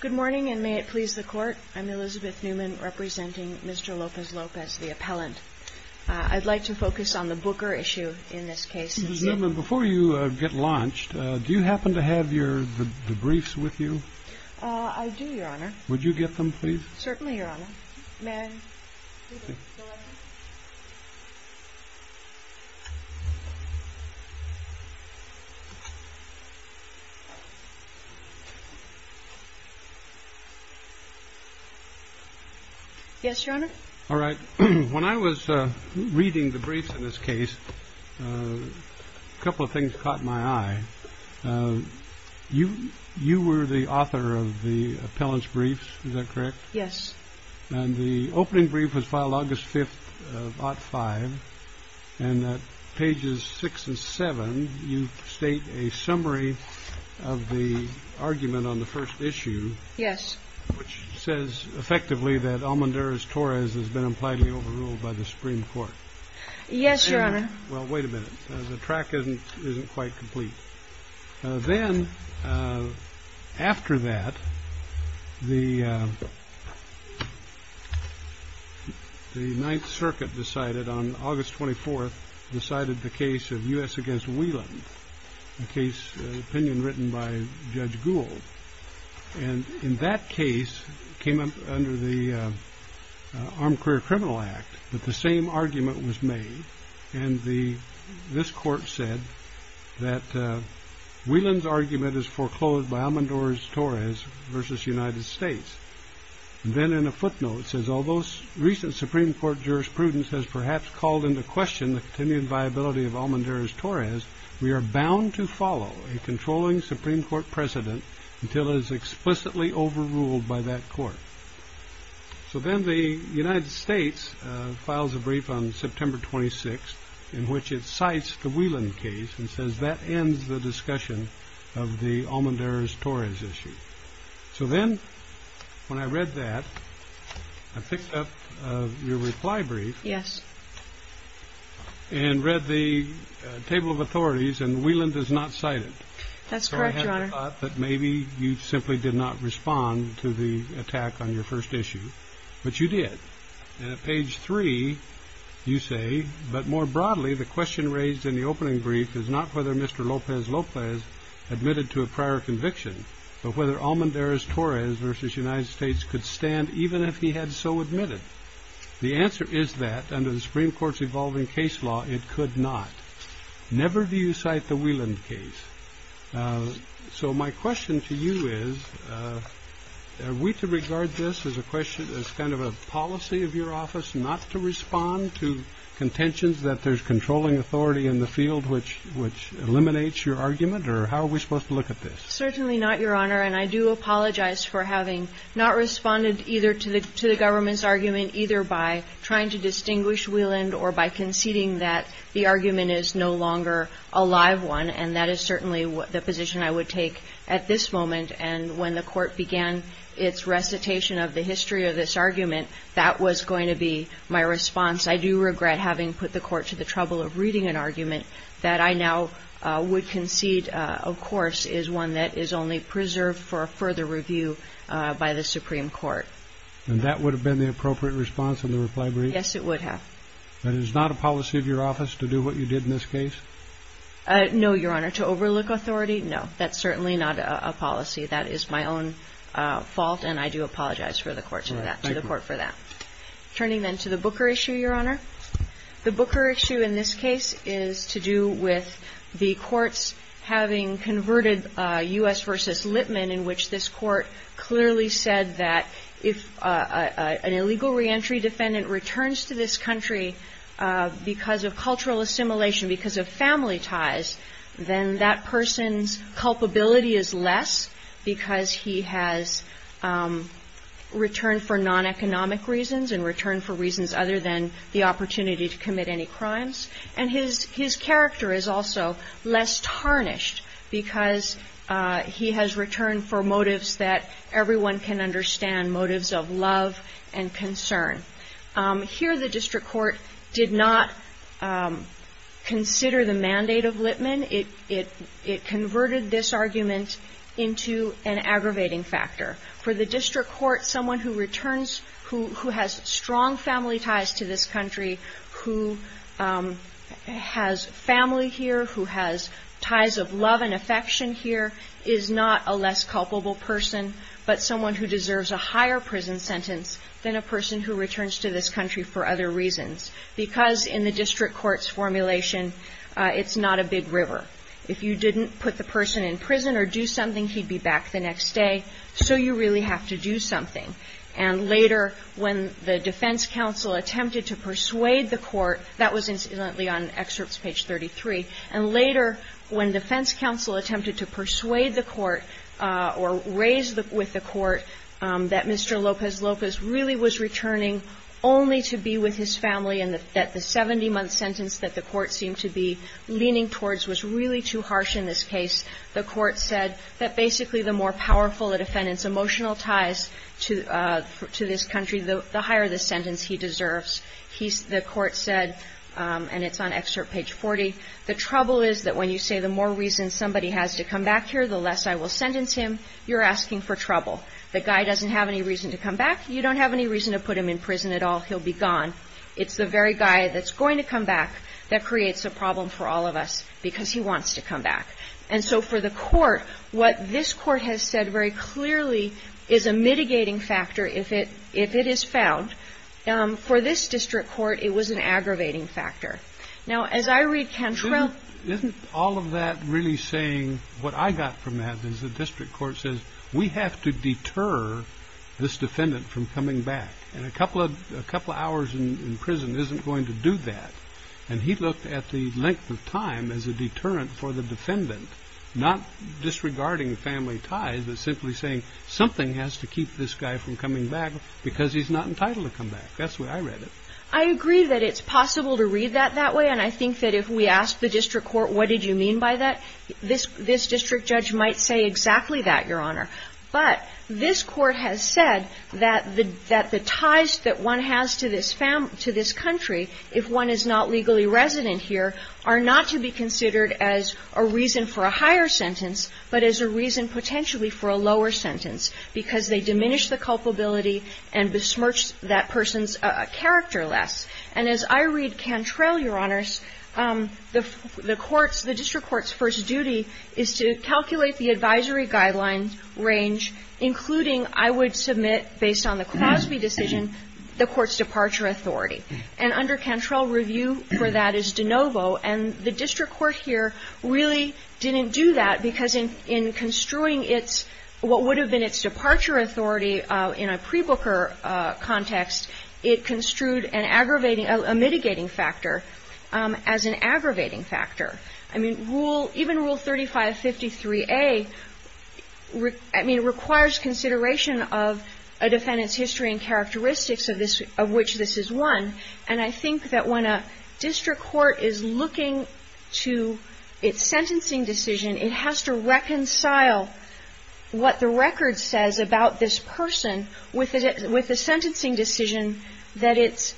Good morning, and may it please the court. I'm Elizabeth Newman, representing Mr. Lopez-Lopez, the appellant. I'd like to focus on the Booker issue in this case. Ms. Newman, before you get launched, do you happen to have your debriefs with you? I do, Your Honor. Would you get them, please? Certainly, Your Honor. When I was reading the briefs in this case, a couple of things caught my eye. You were the author of the appellant's briefs, is that correct? Yes. And the opening brief was filed August 5th of Ott 5. And at pages 6 and 7, you state a summary of the argument on the first issue. Yes. Which says effectively that Almondarez-Torres has been impliedly overruled by the Supreme Court. Yes, Your Honor. Well, wait a minute. The track isn't quite complete. Then, after that, the Ninth Circuit decided on August 24th, decided the case of U.S. against Whelan, a case opinion written by Judge Gould. And in that case, it came up under the Armed Career Criminal Act that the same argument was made. And this court said that Whelan's argument is foreclosed by Almondarez-Torres versus United States. And then in a footnote, it says, Although recent Supreme Court jurisprudence has perhaps called into question the continued viability of Almondarez-Torres, we are bound to follow a controlling Supreme Court precedent until it is explicitly overruled by that court. So then the United States files a brief on September 26th in which it cites the Whelan case and says that ends the discussion of the Almondarez-Torres issue. So then when I read that, I picked up your reply brief. Yes. And read the table of authorities, and Whelan does not cite it. That's correct, Your Honor. I thought that maybe you simply did not respond to the attack on your first issue, but you did. And at page three, you say, But more broadly, the question raised in the opening brief is not whether Mr. López López admitted to a prior conviction, but whether Almondarez-Torres versus United States could stand even if he had so admitted. The answer is that under the Supreme Court's evolving case law, it could not. Never do you cite the Whelan case. So my question to you is, are we to regard this as a question, as kind of a policy of your office not to respond to contentions that there's controlling authority in the field which eliminates your argument? Or how are we supposed to look at this? Certainly not, Your Honor. And I do apologize for having not responded either to the government's argument, either by trying to distinguish Whelan or by conceding that the argument is no longer a live one, and that is certainly the position I would take at this moment. And when the Court began its recitation of the history of this argument, that was going to be my response. I do regret having put the Court to the trouble of reading an argument that I now would concede, of course, is one that is only preserved for further review by the Supreme Court. And that would have been the appropriate response in the reply brief? Yes, it would have. But it is not a policy of your office to do what you did in this case? No, Your Honor. To overlook authority? No. That's certainly not a policy. That is my own fault, and I do apologize to the Court for that. All right. Thank you. Turning then to the Booker issue, Your Honor. The Booker issue in this case is to do with the courts having converted U.S. versus Lippmann, in which this Court clearly said that if an illegal reentry defendant returns to this country because of cultural assimilation, because of family ties, then that person's culpability is less because he has returned for non-economic reasons and returned for reasons other than the opportunity to commit any crimes. And his character is also less tarnished because he has returned for motives that everyone can understand, motives of love and concern. Here the district court did not consider the mandate of Lippmann. It converted this argument into an aggravating factor. For the district court, someone who returns, who has strong family ties to this country, who has family here, who has ties of love and affection here, is not a less culpable person but someone who deserves a higher prison sentence than a person who returns to this country for other reasons. Because in the district court's formulation, it's not a big river. If you didn't put the person in prison or do something, he'd be back the next day, so you really have to do something. And later when the defense counsel attempted to persuade the court, that was incidentally on excerpts page 33, and later when defense counsel attempted to persuade the court or raise with the court that Mr. Lopez Lopez really was returning only to be with his family and that the 70-month sentence that the court seemed to be leaning towards was really too harsh in this case, the court said that basically the more reason somebody has to come back here, the less I will sentence him, you're asking for trouble. The guy doesn't have any reason to come back. You don't have any reason to put him in prison at all. He'll be gone. It's the very guy that's going to come back that creates a problem for all of us because he wants to come back. And so for the court, what this court has said very clearly is a mitigating factor, a mitigating factor. If it is found, for this district court, it was an aggravating factor. Now, as I read Cantrell. Isn't all of that really saying what I got from that is the district court says, we have to deter this defendant from coming back. And a couple of hours in prison isn't going to do that. And he looked at the length of time as a deterrent for the defendant, not disregarding family ties, but simply saying something has to keep this guy from coming back because he's not entitled to come back. That's the way I read it. I agree that it's possible to read that that way. And I think that if we ask the district court, what did you mean by that, this district judge might say exactly that, Your Honor. But this court has said that the ties that one has to this family, to this country, if one is not legally resident here, are not to be considered as a reason for a higher sentence, but as a reason potentially for a lower sentence, because they diminish the culpability and besmirch that person's character less. And as I read Cantrell, Your Honors, the courts, the district court's first duty is to calculate the advisory guideline range, including, I would submit, based on the Crosby decision, the court's departure authority. And under Cantrell, review for that is de novo. And the district court here really didn't do that because in construing its, what would have been its departure authority in a pre-Booker context, it construed an aggravating, a mitigating factor as an aggravating factor. I mean, rule, even Rule 3553A, I mean, requires consideration of a defendant's history and characteristics of which this is one. And I think that when a district court is looking to its sentencing decision, it has to reconcile what the record says about this person with the sentencing decision that it's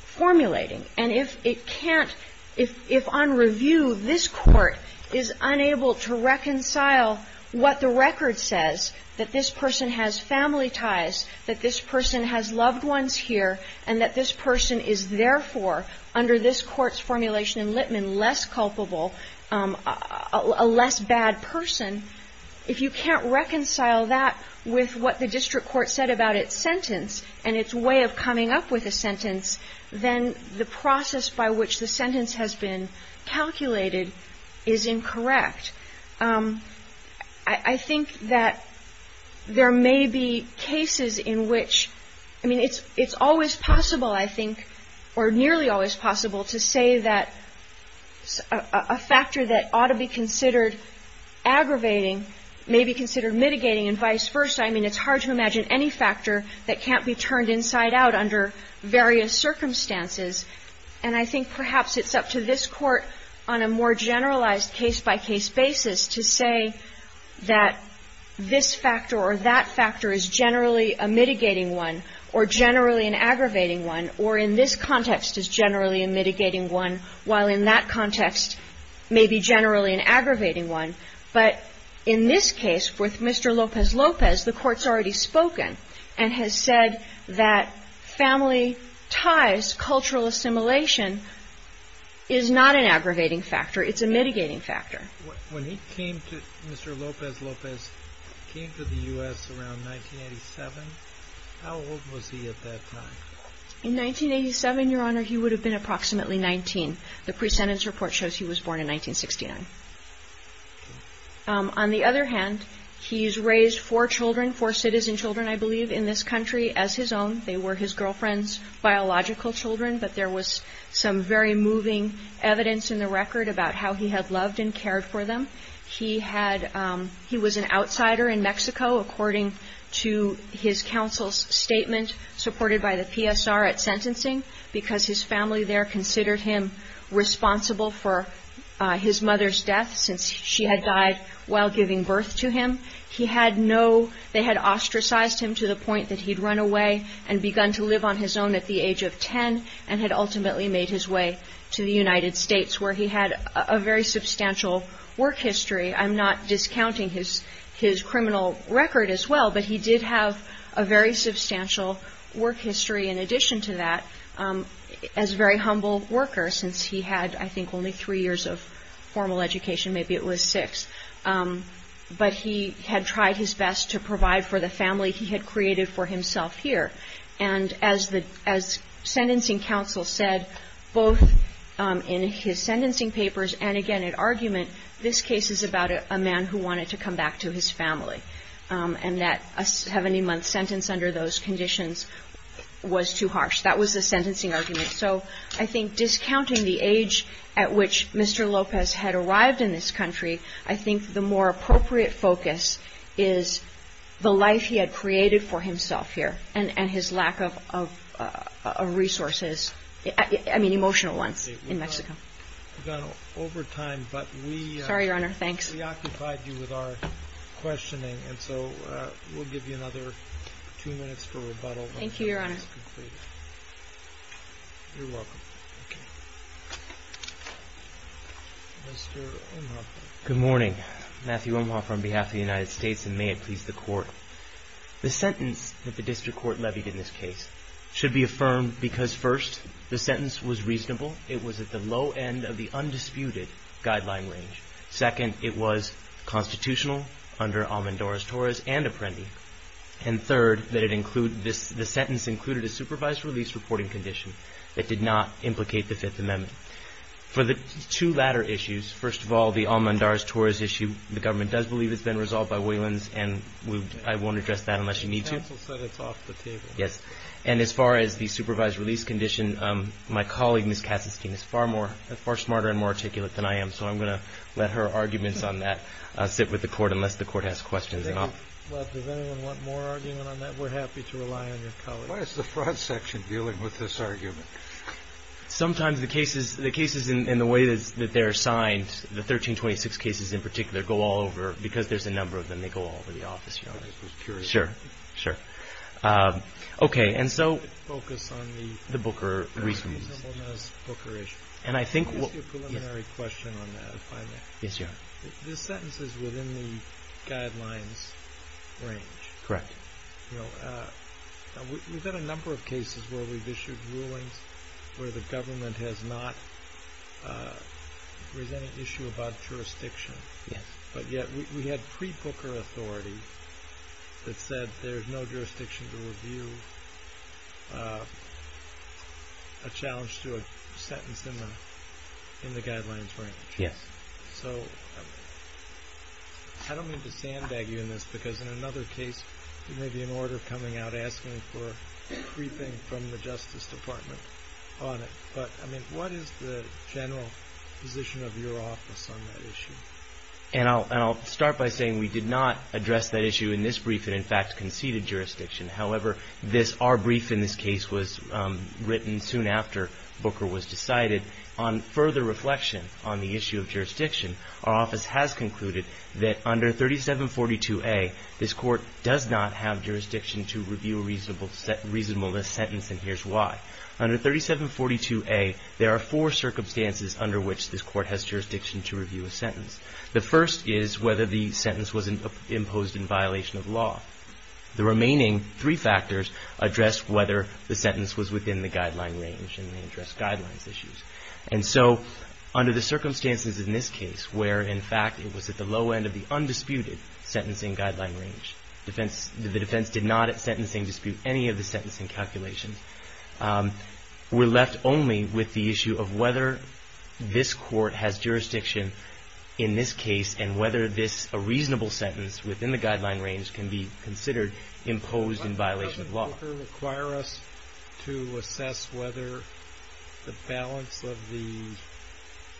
formulating. And if it can't, if on review this court is unable to reconcile what the record says, that this person has family ties, that this person has loved ones here, and that this person is therefore, under this court's formulation in Litman, less culpable, a less bad person, if you can't reconcile that with what the district court said about its sentence and its way of coming up with a sentence, then the process by which the sentence has been calculated is incorrect. I think that there may be cases in which, I mean, it's always possible, I think, or nearly always possible to say that a factor that ought to be considered aggravating may be considered mitigating and vice versa. I mean, it's hard to imagine any factor that can't be turned inside out under various circumstances. And I think perhaps it's up to this Court on a more generalized case-by-case basis to say that this factor or that factor is generally a mitigating one or generally an aggravating one, or in this context is generally a mitigating one, while in that context may be generally an aggravating one. But in this case, with Mr. Lopez-Lopez, the Court's already spoken and has said that family ties, cultural assimilation, is not an aggravating factor. It's a mitigating factor. When he came to Mr. Lopez-Lopez, he came to the U.S. around 1987. How old was he at that time? In 1987, Your Honor, he would have been approximately 19. The pre-sentence report shows he was born in 1969. On the other hand, he's raised four children, four citizen children, I believe, in this country as his own. They were his girlfriend's biological children, but there was some very moving evidence in the record about how he had loved and cared for them. He was an outsider in Mexico, according to his counsel's statement, supported by the PSR at sentencing, because his family there considered him responsible for his mother's death, since she had died while giving birth to him. They had ostracized him to the point that he'd run away and begun to live on his own at the age of 10, and had ultimately made his way to the United States, where he had a very substantial work history. I'm not discounting his criminal record as well, but he did have a very substantial work history in addition to that, as a very humble worker, since he had, I think, only three years of formal education. Maybe it was six. But he had tried his best to provide for the family he had created for himself here. And as sentencing counsel said, both in his sentencing papers and again at argument, this case is about a man who wanted to come back to his family, and that a 70-month sentence under those conditions was too harsh. That was the sentencing argument. So I think discounting the age at which Mr. Lopez had arrived in this country, I think the more appropriate focus is the life he had created for himself here, and his lack of resources, I mean emotional ones, in Mexico. We've gone over time. Sorry, Your Honor. Thanks. We occupied you with our questioning, and so we'll give you another two minutes for rebuttal. Thank you, Your Honor. You're welcome. Thank you. Mr. Omhoff. Good morning. Matthew Omhoff on behalf of the United States, and may it please the Court. The sentence that the district court levied in this case should be affirmed because, first, the sentence was reasonable. It was at the low end of the undisputed guideline range. Second, it was constitutional under Almendores-Torres and Apprendi. And third, the sentence included a supervised release reporting condition that did not implicate the Fifth Amendment. For the two latter issues, first of all, the Almendores-Torres issue, the government does believe it's been resolved by Waylands, and I won't address that unless you need to. The counsel said it's off the table. Yes. And as far as the supervised release condition, my colleague, Ms. Kassestein, is far smarter and more articulate than I am, so I'm going to let her arguments on that sit with the Court unless the Court has questions at all. Well, does anyone want more argument on that? We're happy to rely on your colleagues. Why is the Fraud Section dealing with this argument? Sometimes the cases in the way that they're assigned, the 1326 cases in particular, go all over because there's a number of them. They go all over the office, Your Honor. I was just curious. Sure. Sure. Okay. And so focus on the reasonableness Booker issue. And I think what Just a preliminary question on that, if I may. Yes, Your Honor. This sentence is within the guidelines range. Correct. You know, we've had a number of cases where we've issued rulings where the government has not raised any issue about jurisdiction. Yes. But yet we had pre-Booker authority that said there's no jurisdiction to review a challenge to a sentence in the guidelines range. Yes. So I don't mean to sandbag you in this because in another case, there may be an order coming out asking for a briefing from the Justice Department on it. But, I mean, what is the general position of your office on that issue? And I'll start by saying we did not address that issue in this brief and, in fact, conceded jurisdiction. However, our brief in this case was written soon after Booker was decided And on further reflection on the issue of jurisdiction, our office has concluded that under 3742A, this Court does not have jurisdiction to review a reasonableness sentence, and here's why. Under 3742A, there are four circumstances under which this Court has jurisdiction to review a sentence. The first is whether the sentence was imposed in violation of law. The remaining three factors address whether the sentence was within the guideline range and they address guidelines issues. And so under the circumstances in this case where, in fact, it was at the low end of the undisputed sentencing guideline range, the defense did not at sentencing dispute any of the sentencing calculations, we're left only with the issue of whether this Court has jurisdiction in this case and whether this reasonable sentence within the guideline range can be considered imposed in violation of law. Does Booker require us to assess whether the balance of the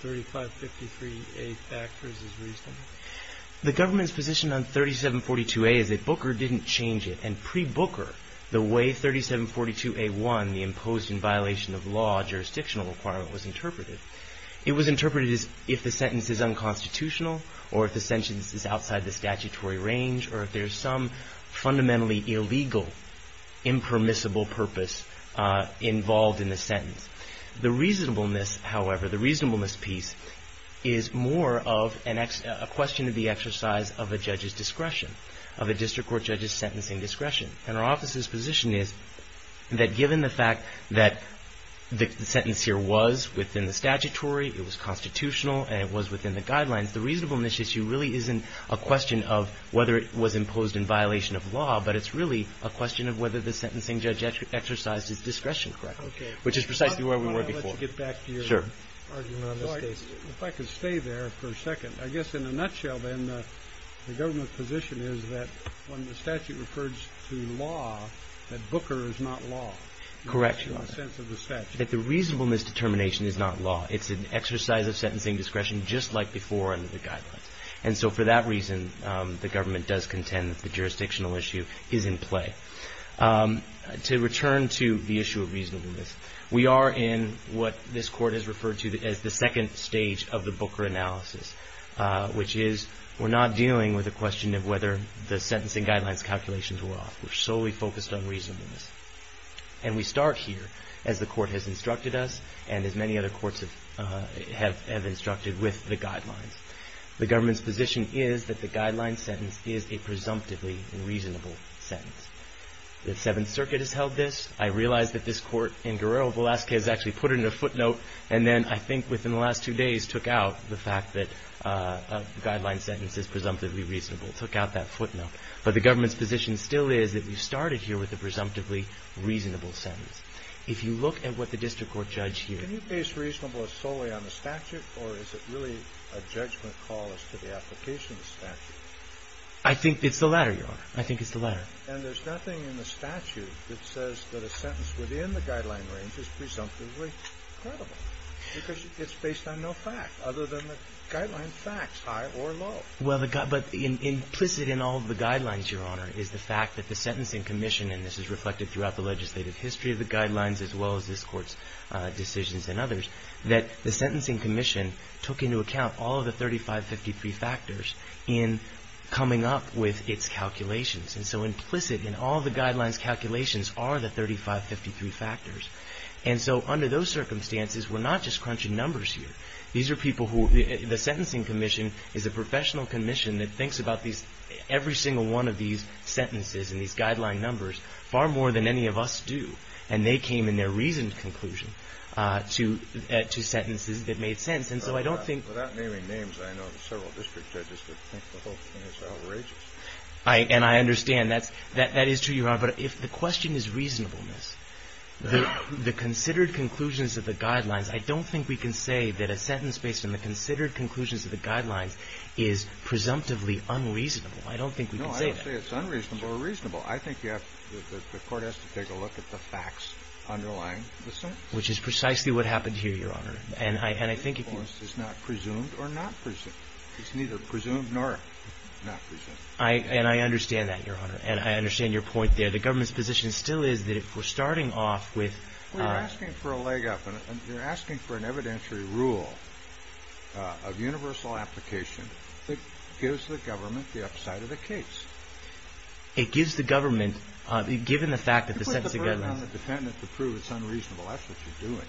3553A factors is reasonable? The government's position on 3742A is that Booker didn't change it. And pre-Booker, the way 3742A1, the imposed in violation of law jurisdictional requirement, was interpreted, it was interpreted as if the sentence is unconstitutional or if the sentence is outside the statutory range or if there's some fundamentally illegal impermissible purpose involved in the sentence. The reasonableness, however, the reasonableness piece is more of a question of the exercise of a judge's discretion, of a district court judge's sentencing discretion. And our office's position is that given the fact that the sentence here was within the statutory, it was constitutional, and it was within the guidelines, the reasonableness issue really isn't a question of whether it was imposed in violation of law, but it's really a question of whether the sentencing judge exercised his discretion correctly, which is precisely where we were before. Sure. If I could stay there for a second. I guess in a nutshell, then, the government's position is that when the statute refers to law, that Booker is not law. Correct, Your Honor. In the sense of the statute. That the reasonableness determination is not law. It's an exercise of sentencing discretion just like before under the guidelines. And so for that reason, the government does contend that the jurisdictional issue is in play. To return to the issue of reasonableness, we are in what this Court has referred to as the second stage of the Booker analysis, which is we're not dealing with a question of whether the sentencing guidelines calculations were off. We're solely focused on reasonableness. And we start here as the Court has instructed us and as many other courts have instructed with the guidelines. The government's position is that the guideline sentence is a presumptively reasonable sentence. The Seventh Circuit has held this. I realize that this Court in Guerrero-Velasquez actually put it in a footnote, and then I think within the last two days took out the fact that a guideline sentence is presumptively reasonable, took out that footnote. But the government's position still is that we started here with a presumptively reasonable sentence. If you look at what the district court judge here – Can you base reasonableness solely on the statute or is it really a judgment call as to the application of the statute? I think it's the latter, Your Honor. I think it's the latter. And there's nothing in the statute that says that a sentence within the guideline range is presumptively credible because it's based on no fact other than the guideline facts, high or low. Well, but implicit in all of the guidelines, Your Honor, is the fact that the Sentencing Commission – and this is reflected throughout the legislative history of the guidelines as well as this Court's decisions and others – that the Sentencing Commission took into account all of the 3553 factors in coming up with its calculations. And so implicit in all the guidelines calculations are the 3553 factors. And so under those circumstances, we're not just crunching numbers here. These are people who – the Sentencing Commission is a professional commission that thinks about these – every single one of these sentences and these guideline numbers far more than any of us do. And they came in their reasoned conclusion to sentences that made sense. And so I don't think – Without naming names, I know several district judges that think the whole thing is outrageous. And I understand. That is true, Your Honor. But if the question is reasonableness, the considered conclusions of the guidelines, I don't think we can say that a sentence based on the considered conclusions of the guidelines is presumptively unreasonable. I don't think we can say that. No, I don't say it's unreasonable or reasonable. I think you have – the Court has to take a look at the facts underlying the sentence. Which is precisely what happened here, Your Honor. And I think if you – It's not presumed or not presumed. It's neither presumed nor not presumed. And I understand that, Your Honor. And I understand your point there. The government's position still is that if we're starting off with – Well, you're asking for a leg up. And you're asking for an evidentiary rule of universal application that gives the government the upside of the case. It gives the government – given the fact that the sentence – You put the burden on the defendant to prove it's unreasonable. That's what you're doing.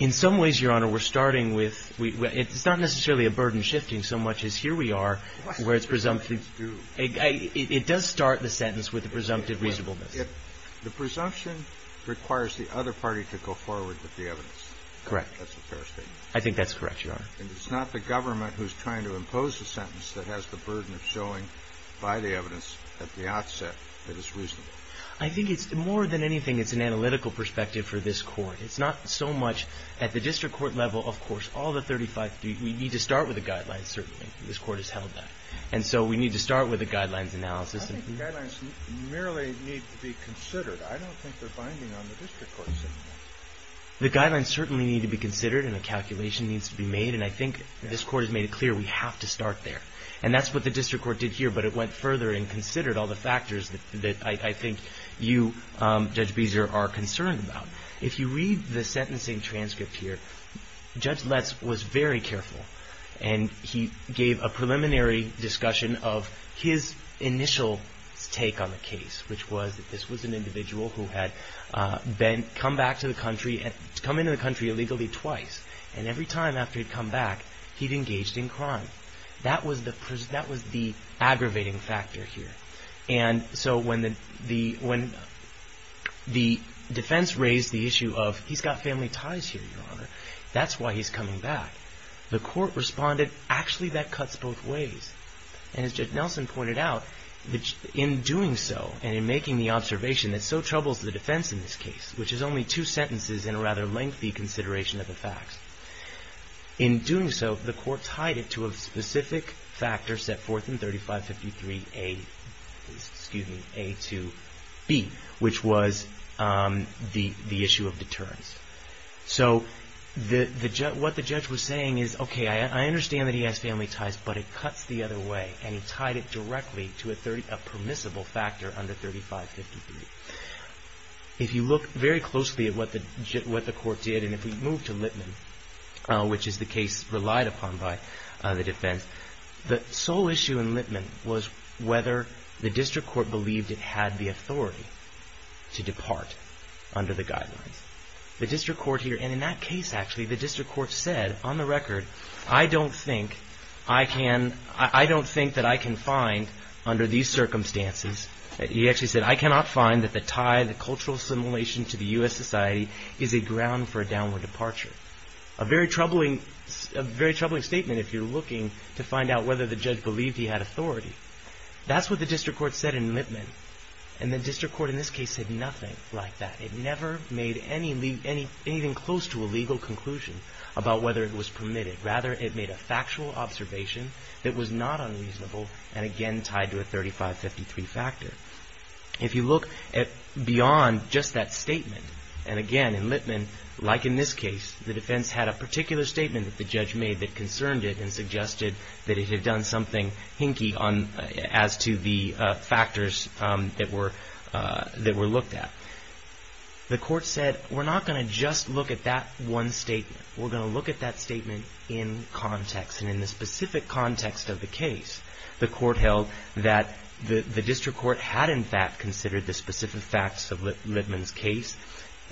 In some ways, Your Honor, we're starting with – it's not necessarily a burden shifting so much as here we are where it's presumptively – It does start the sentence with a presumptive reasonableness. The presumption requires the other party to go forward with the evidence. Correct. That's a fair statement. I think that's correct, Your Honor. And it's not the government who's trying to impose the sentence that has the burden of showing by the evidence at the outset that it's reasonable. I think it's – more than anything, it's an analytical perspective for this Court. It's not so much – at the district court level, of course, all the 35 – we need to start with a guideline, certainly. This Court has held that. And so we need to start with a guidelines analysis. I think the guidelines merely need to be considered. I don't think they're binding on the district court system. The guidelines certainly need to be considered and a calculation needs to be made. And I think this Court has made it clear we have to start there. And that's what the district court did here, but it went further and considered all the factors that I think you, Judge Beezer, are concerned about. If you read the sentencing transcript here, Judge Letts was very careful and he gave a preliminary discussion of his initial take on the case, which was that this was an individual who had been – come back to the country – come into the country illegally twice. And every time after he'd come back, he'd engaged in crime. That was the aggravating factor here. And so when the defense raised the issue of he's got family ties here, Your Honor, that's why he's coming back. The court responded, actually, that cuts both ways. And as Judge Nelson pointed out, in doing so and in making the observation that so troubles the defense in this case, which is only two sentences and a rather lengthy consideration of the facts, in doing so, the court tied it to a specific factor set forth in 3553A2B, which was the issue of deterrence. So what the judge was saying is, okay, I understand that he has family ties, but it cuts the other way. And he tied it directly to a permissible factor under 3553. If you look very closely at what the court did, and if we move to Lipman, which is the case relied upon by the defense, the sole issue in Lipman was whether the district court believed it had the authority to depart under the guidelines. The district court here – and in that case, actually, the district court said, on the record, I don't think I can – I don't think that I can find, under these circumstances – he actually said, I cannot find that the tie, the cultural assimilation to the U.S. society is a ground for a downward departure. A very troubling statement if you're looking to find out whether the judge believed he had authority. That's what the district court said in Lipman, and the district court in this case said nothing like that. It never made anything close to a legal conclusion about whether it was permitted. Rather, it made a factual observation that was not unreasonable, and again, tied to a 3553 factor. If you look beyond just that statement, and again, in Lipman, like in this case, the defense had a particular statement that the judge made that concerned it and suggested that it had done something hinky as to the factors that were looked at. The court said, we're not going to just look at that one statement. We're going to look at that statement in context, and in the specific context of the case. The court held that the district court had, in fact, considered the specific facts of Lipman's case,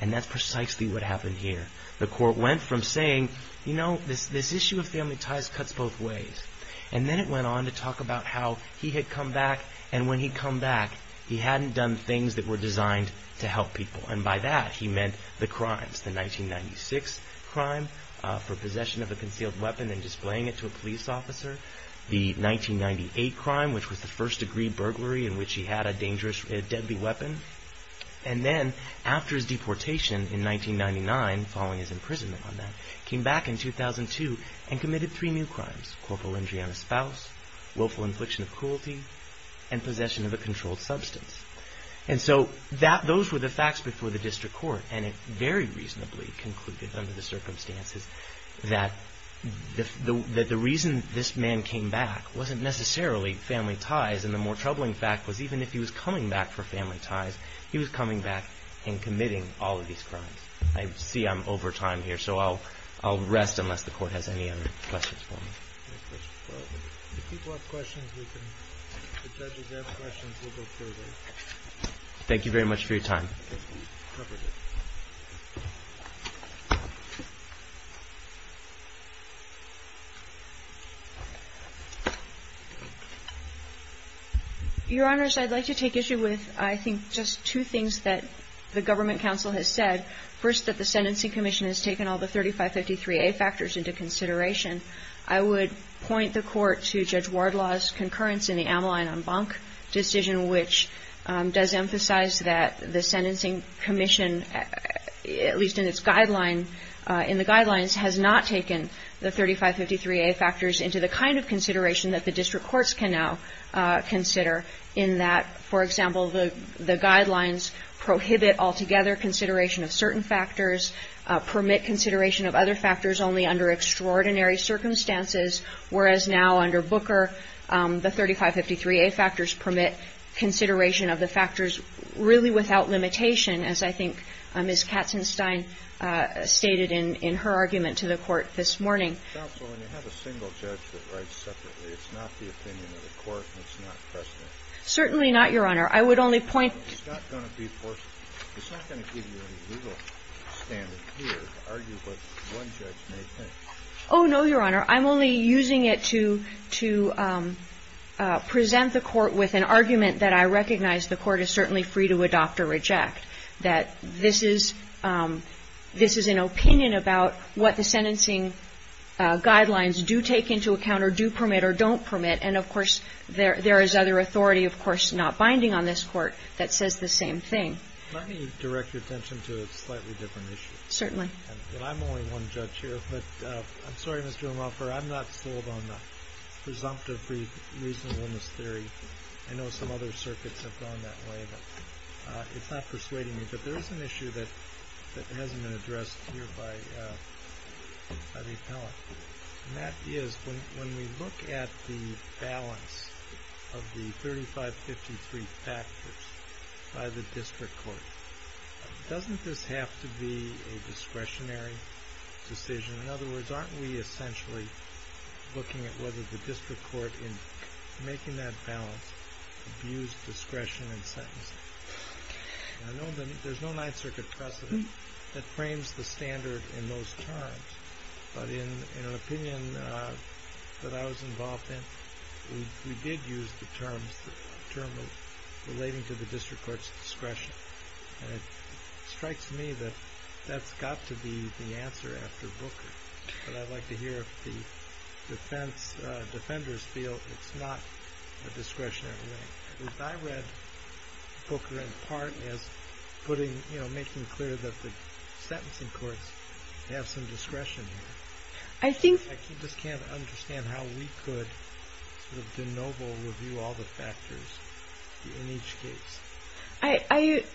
and that's precisely what happened here. The court went from saying, you know, this issue of family ties cuts both ways, and then it went on to talk about how he had come back, and when he'd come back, he hadn't done things that were designed to help people, and by that, he meant the crimes. The 1996 crime for possession of a concealed weapon and displaying it to a police officer, the 1998 crime, which was the first degree burglary in which he had a deadly weapon, and then, after his deportation in 1999, following his imprisonment on that, he came back in 2002 and committed three new crimes, corporal injury on a spouse, willful infliction of cruelty, and possession of a controlled substance. And so those were the facts before the district court, and it very reasonably concluded under the circumstances that the reason this man came back wasn't necessarily family ties, and the more troubling fact was even if he was coming back for family ties, he was coming back and committing all of these crimes. I see I'm over time here, so I'll rest unless the Court has any other questions for me. If people have questions, we can, if the judges have questions, we'll go further. Thank you very much for your time. Thank you. Your Honors, I'd like to take issue with, I think, just two things that the Government Council has said. First, that the Sentencing Commission has taken all the 3553A factors into consideration. I would point the Court to Judge Wardlaw's concurrence in the Ameline on Bonk decision, which does emphasize that the sentencing commission has taken all the 3553A factors into consideration. The Sentencing Commission, at least in its guideline, in the guidelines, has not taken the 3553A factors into the kind of consideration that the district courts can now consider, in that, for example, the guidelines prohibit altogether consideration of certain factors, permit consideration of other factors only under extraordinary circumstances, whereas now under Booker, the 3553A factors permit consideration of the factors really without limitation, as I think Ms. Katzenstein stated in her argument to the Court this morning. Counsel, when you have a single judge that writes separately, it's not the opinion of the Court, and it's not precedent. Certainly not, Your Honor. I would only point to the fact that it's not going to give you any legal standard here to argue what one judge may think. Oh, no, Your Honor. I'm only using it to present the Court with an argument that I recognize the Court is certainly free to adopt or reject, that this is an opinion about what the sentencing guidelines do take into account or do permit or don't permit. And, of course, there is other authority, of course, not binding on this Court, that says the same thing. Let me direct your attention to a slightly different issue. Certainly. And I'm only one judge here, but I'm sorry, Mr. O'Malper, I'm not sold on the presumptive reasonableness theory. I know some other circuits have gone that way, but it's not persuading me. But there is an issue that hasn't been addressed here by the appellant, and that is when we look at the balance of the 3553 factors by the district court, doesn't this have to be a discretionary decision? In other words, aren't we essentially looking at whether the district court, in making that balance, abused discretion in sentencing? There's no Ninth Circuit precedent that frames the standard in those terms, but in an opinion that I was involved in, we did use the term relating to the district court's discretion. And it strikes me that that's got to be the answer after Booker. But I'd like to hear if the defenders feel it's not a discretionary thing. I read Booker in part as making clear that the sentencing courts have some discretion here. I just can't understand how we could denoble review all the factors in each case.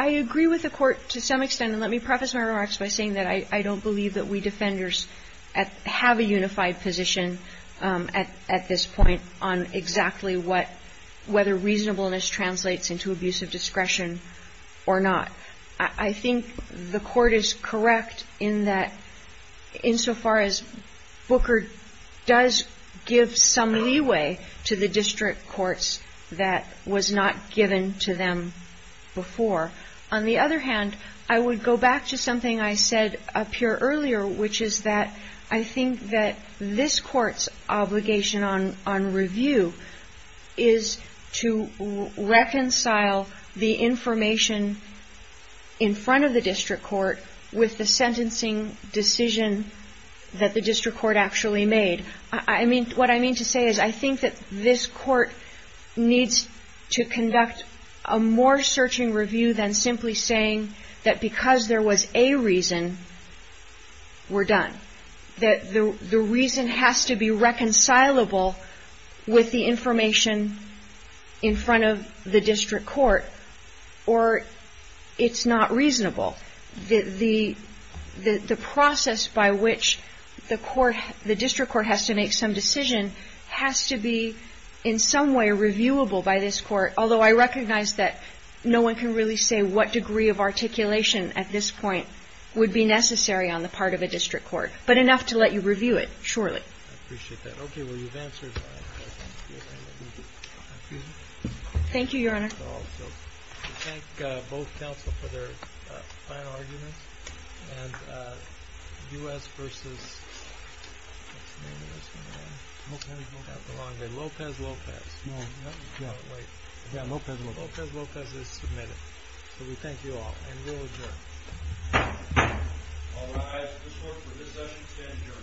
I agree with the court to some extent, and let me preface my remarks by saying that I don't believe that we defenders have a unified position at this point on exactly whether reasonableness translates into abuse of discretion or not. I think the court is correct in that, insofar as Booker does give some leeway to the district courts that was not given to them before. On the other hand, I would go back to something I said up here earlier, which is that I think that this court's obligation on review is to reconcile the information in front of the district court with the sentencing decision that the district court actually made. What I mean to say is I think that this court needs to conduct a more searching review than simply saying that because there was a reason, we're done. That the reason has to be reconcilable with the information in front of the district court, or it's not reasonable. The process by which the district court has to make some decision has to be in some way reviewable by this court, although I recognize that no one can really say what degree of articulation at this point would be necessary on the part of a district court. But enough to let you review it, surely. Thank you, Your Honor. We thank both counsel for their fine arguments. And U.S. v. Lopez-Lopez is submitted. So we thank you all. And we'll adjourn. All rise. This court for this session stands adjourned. Thank you.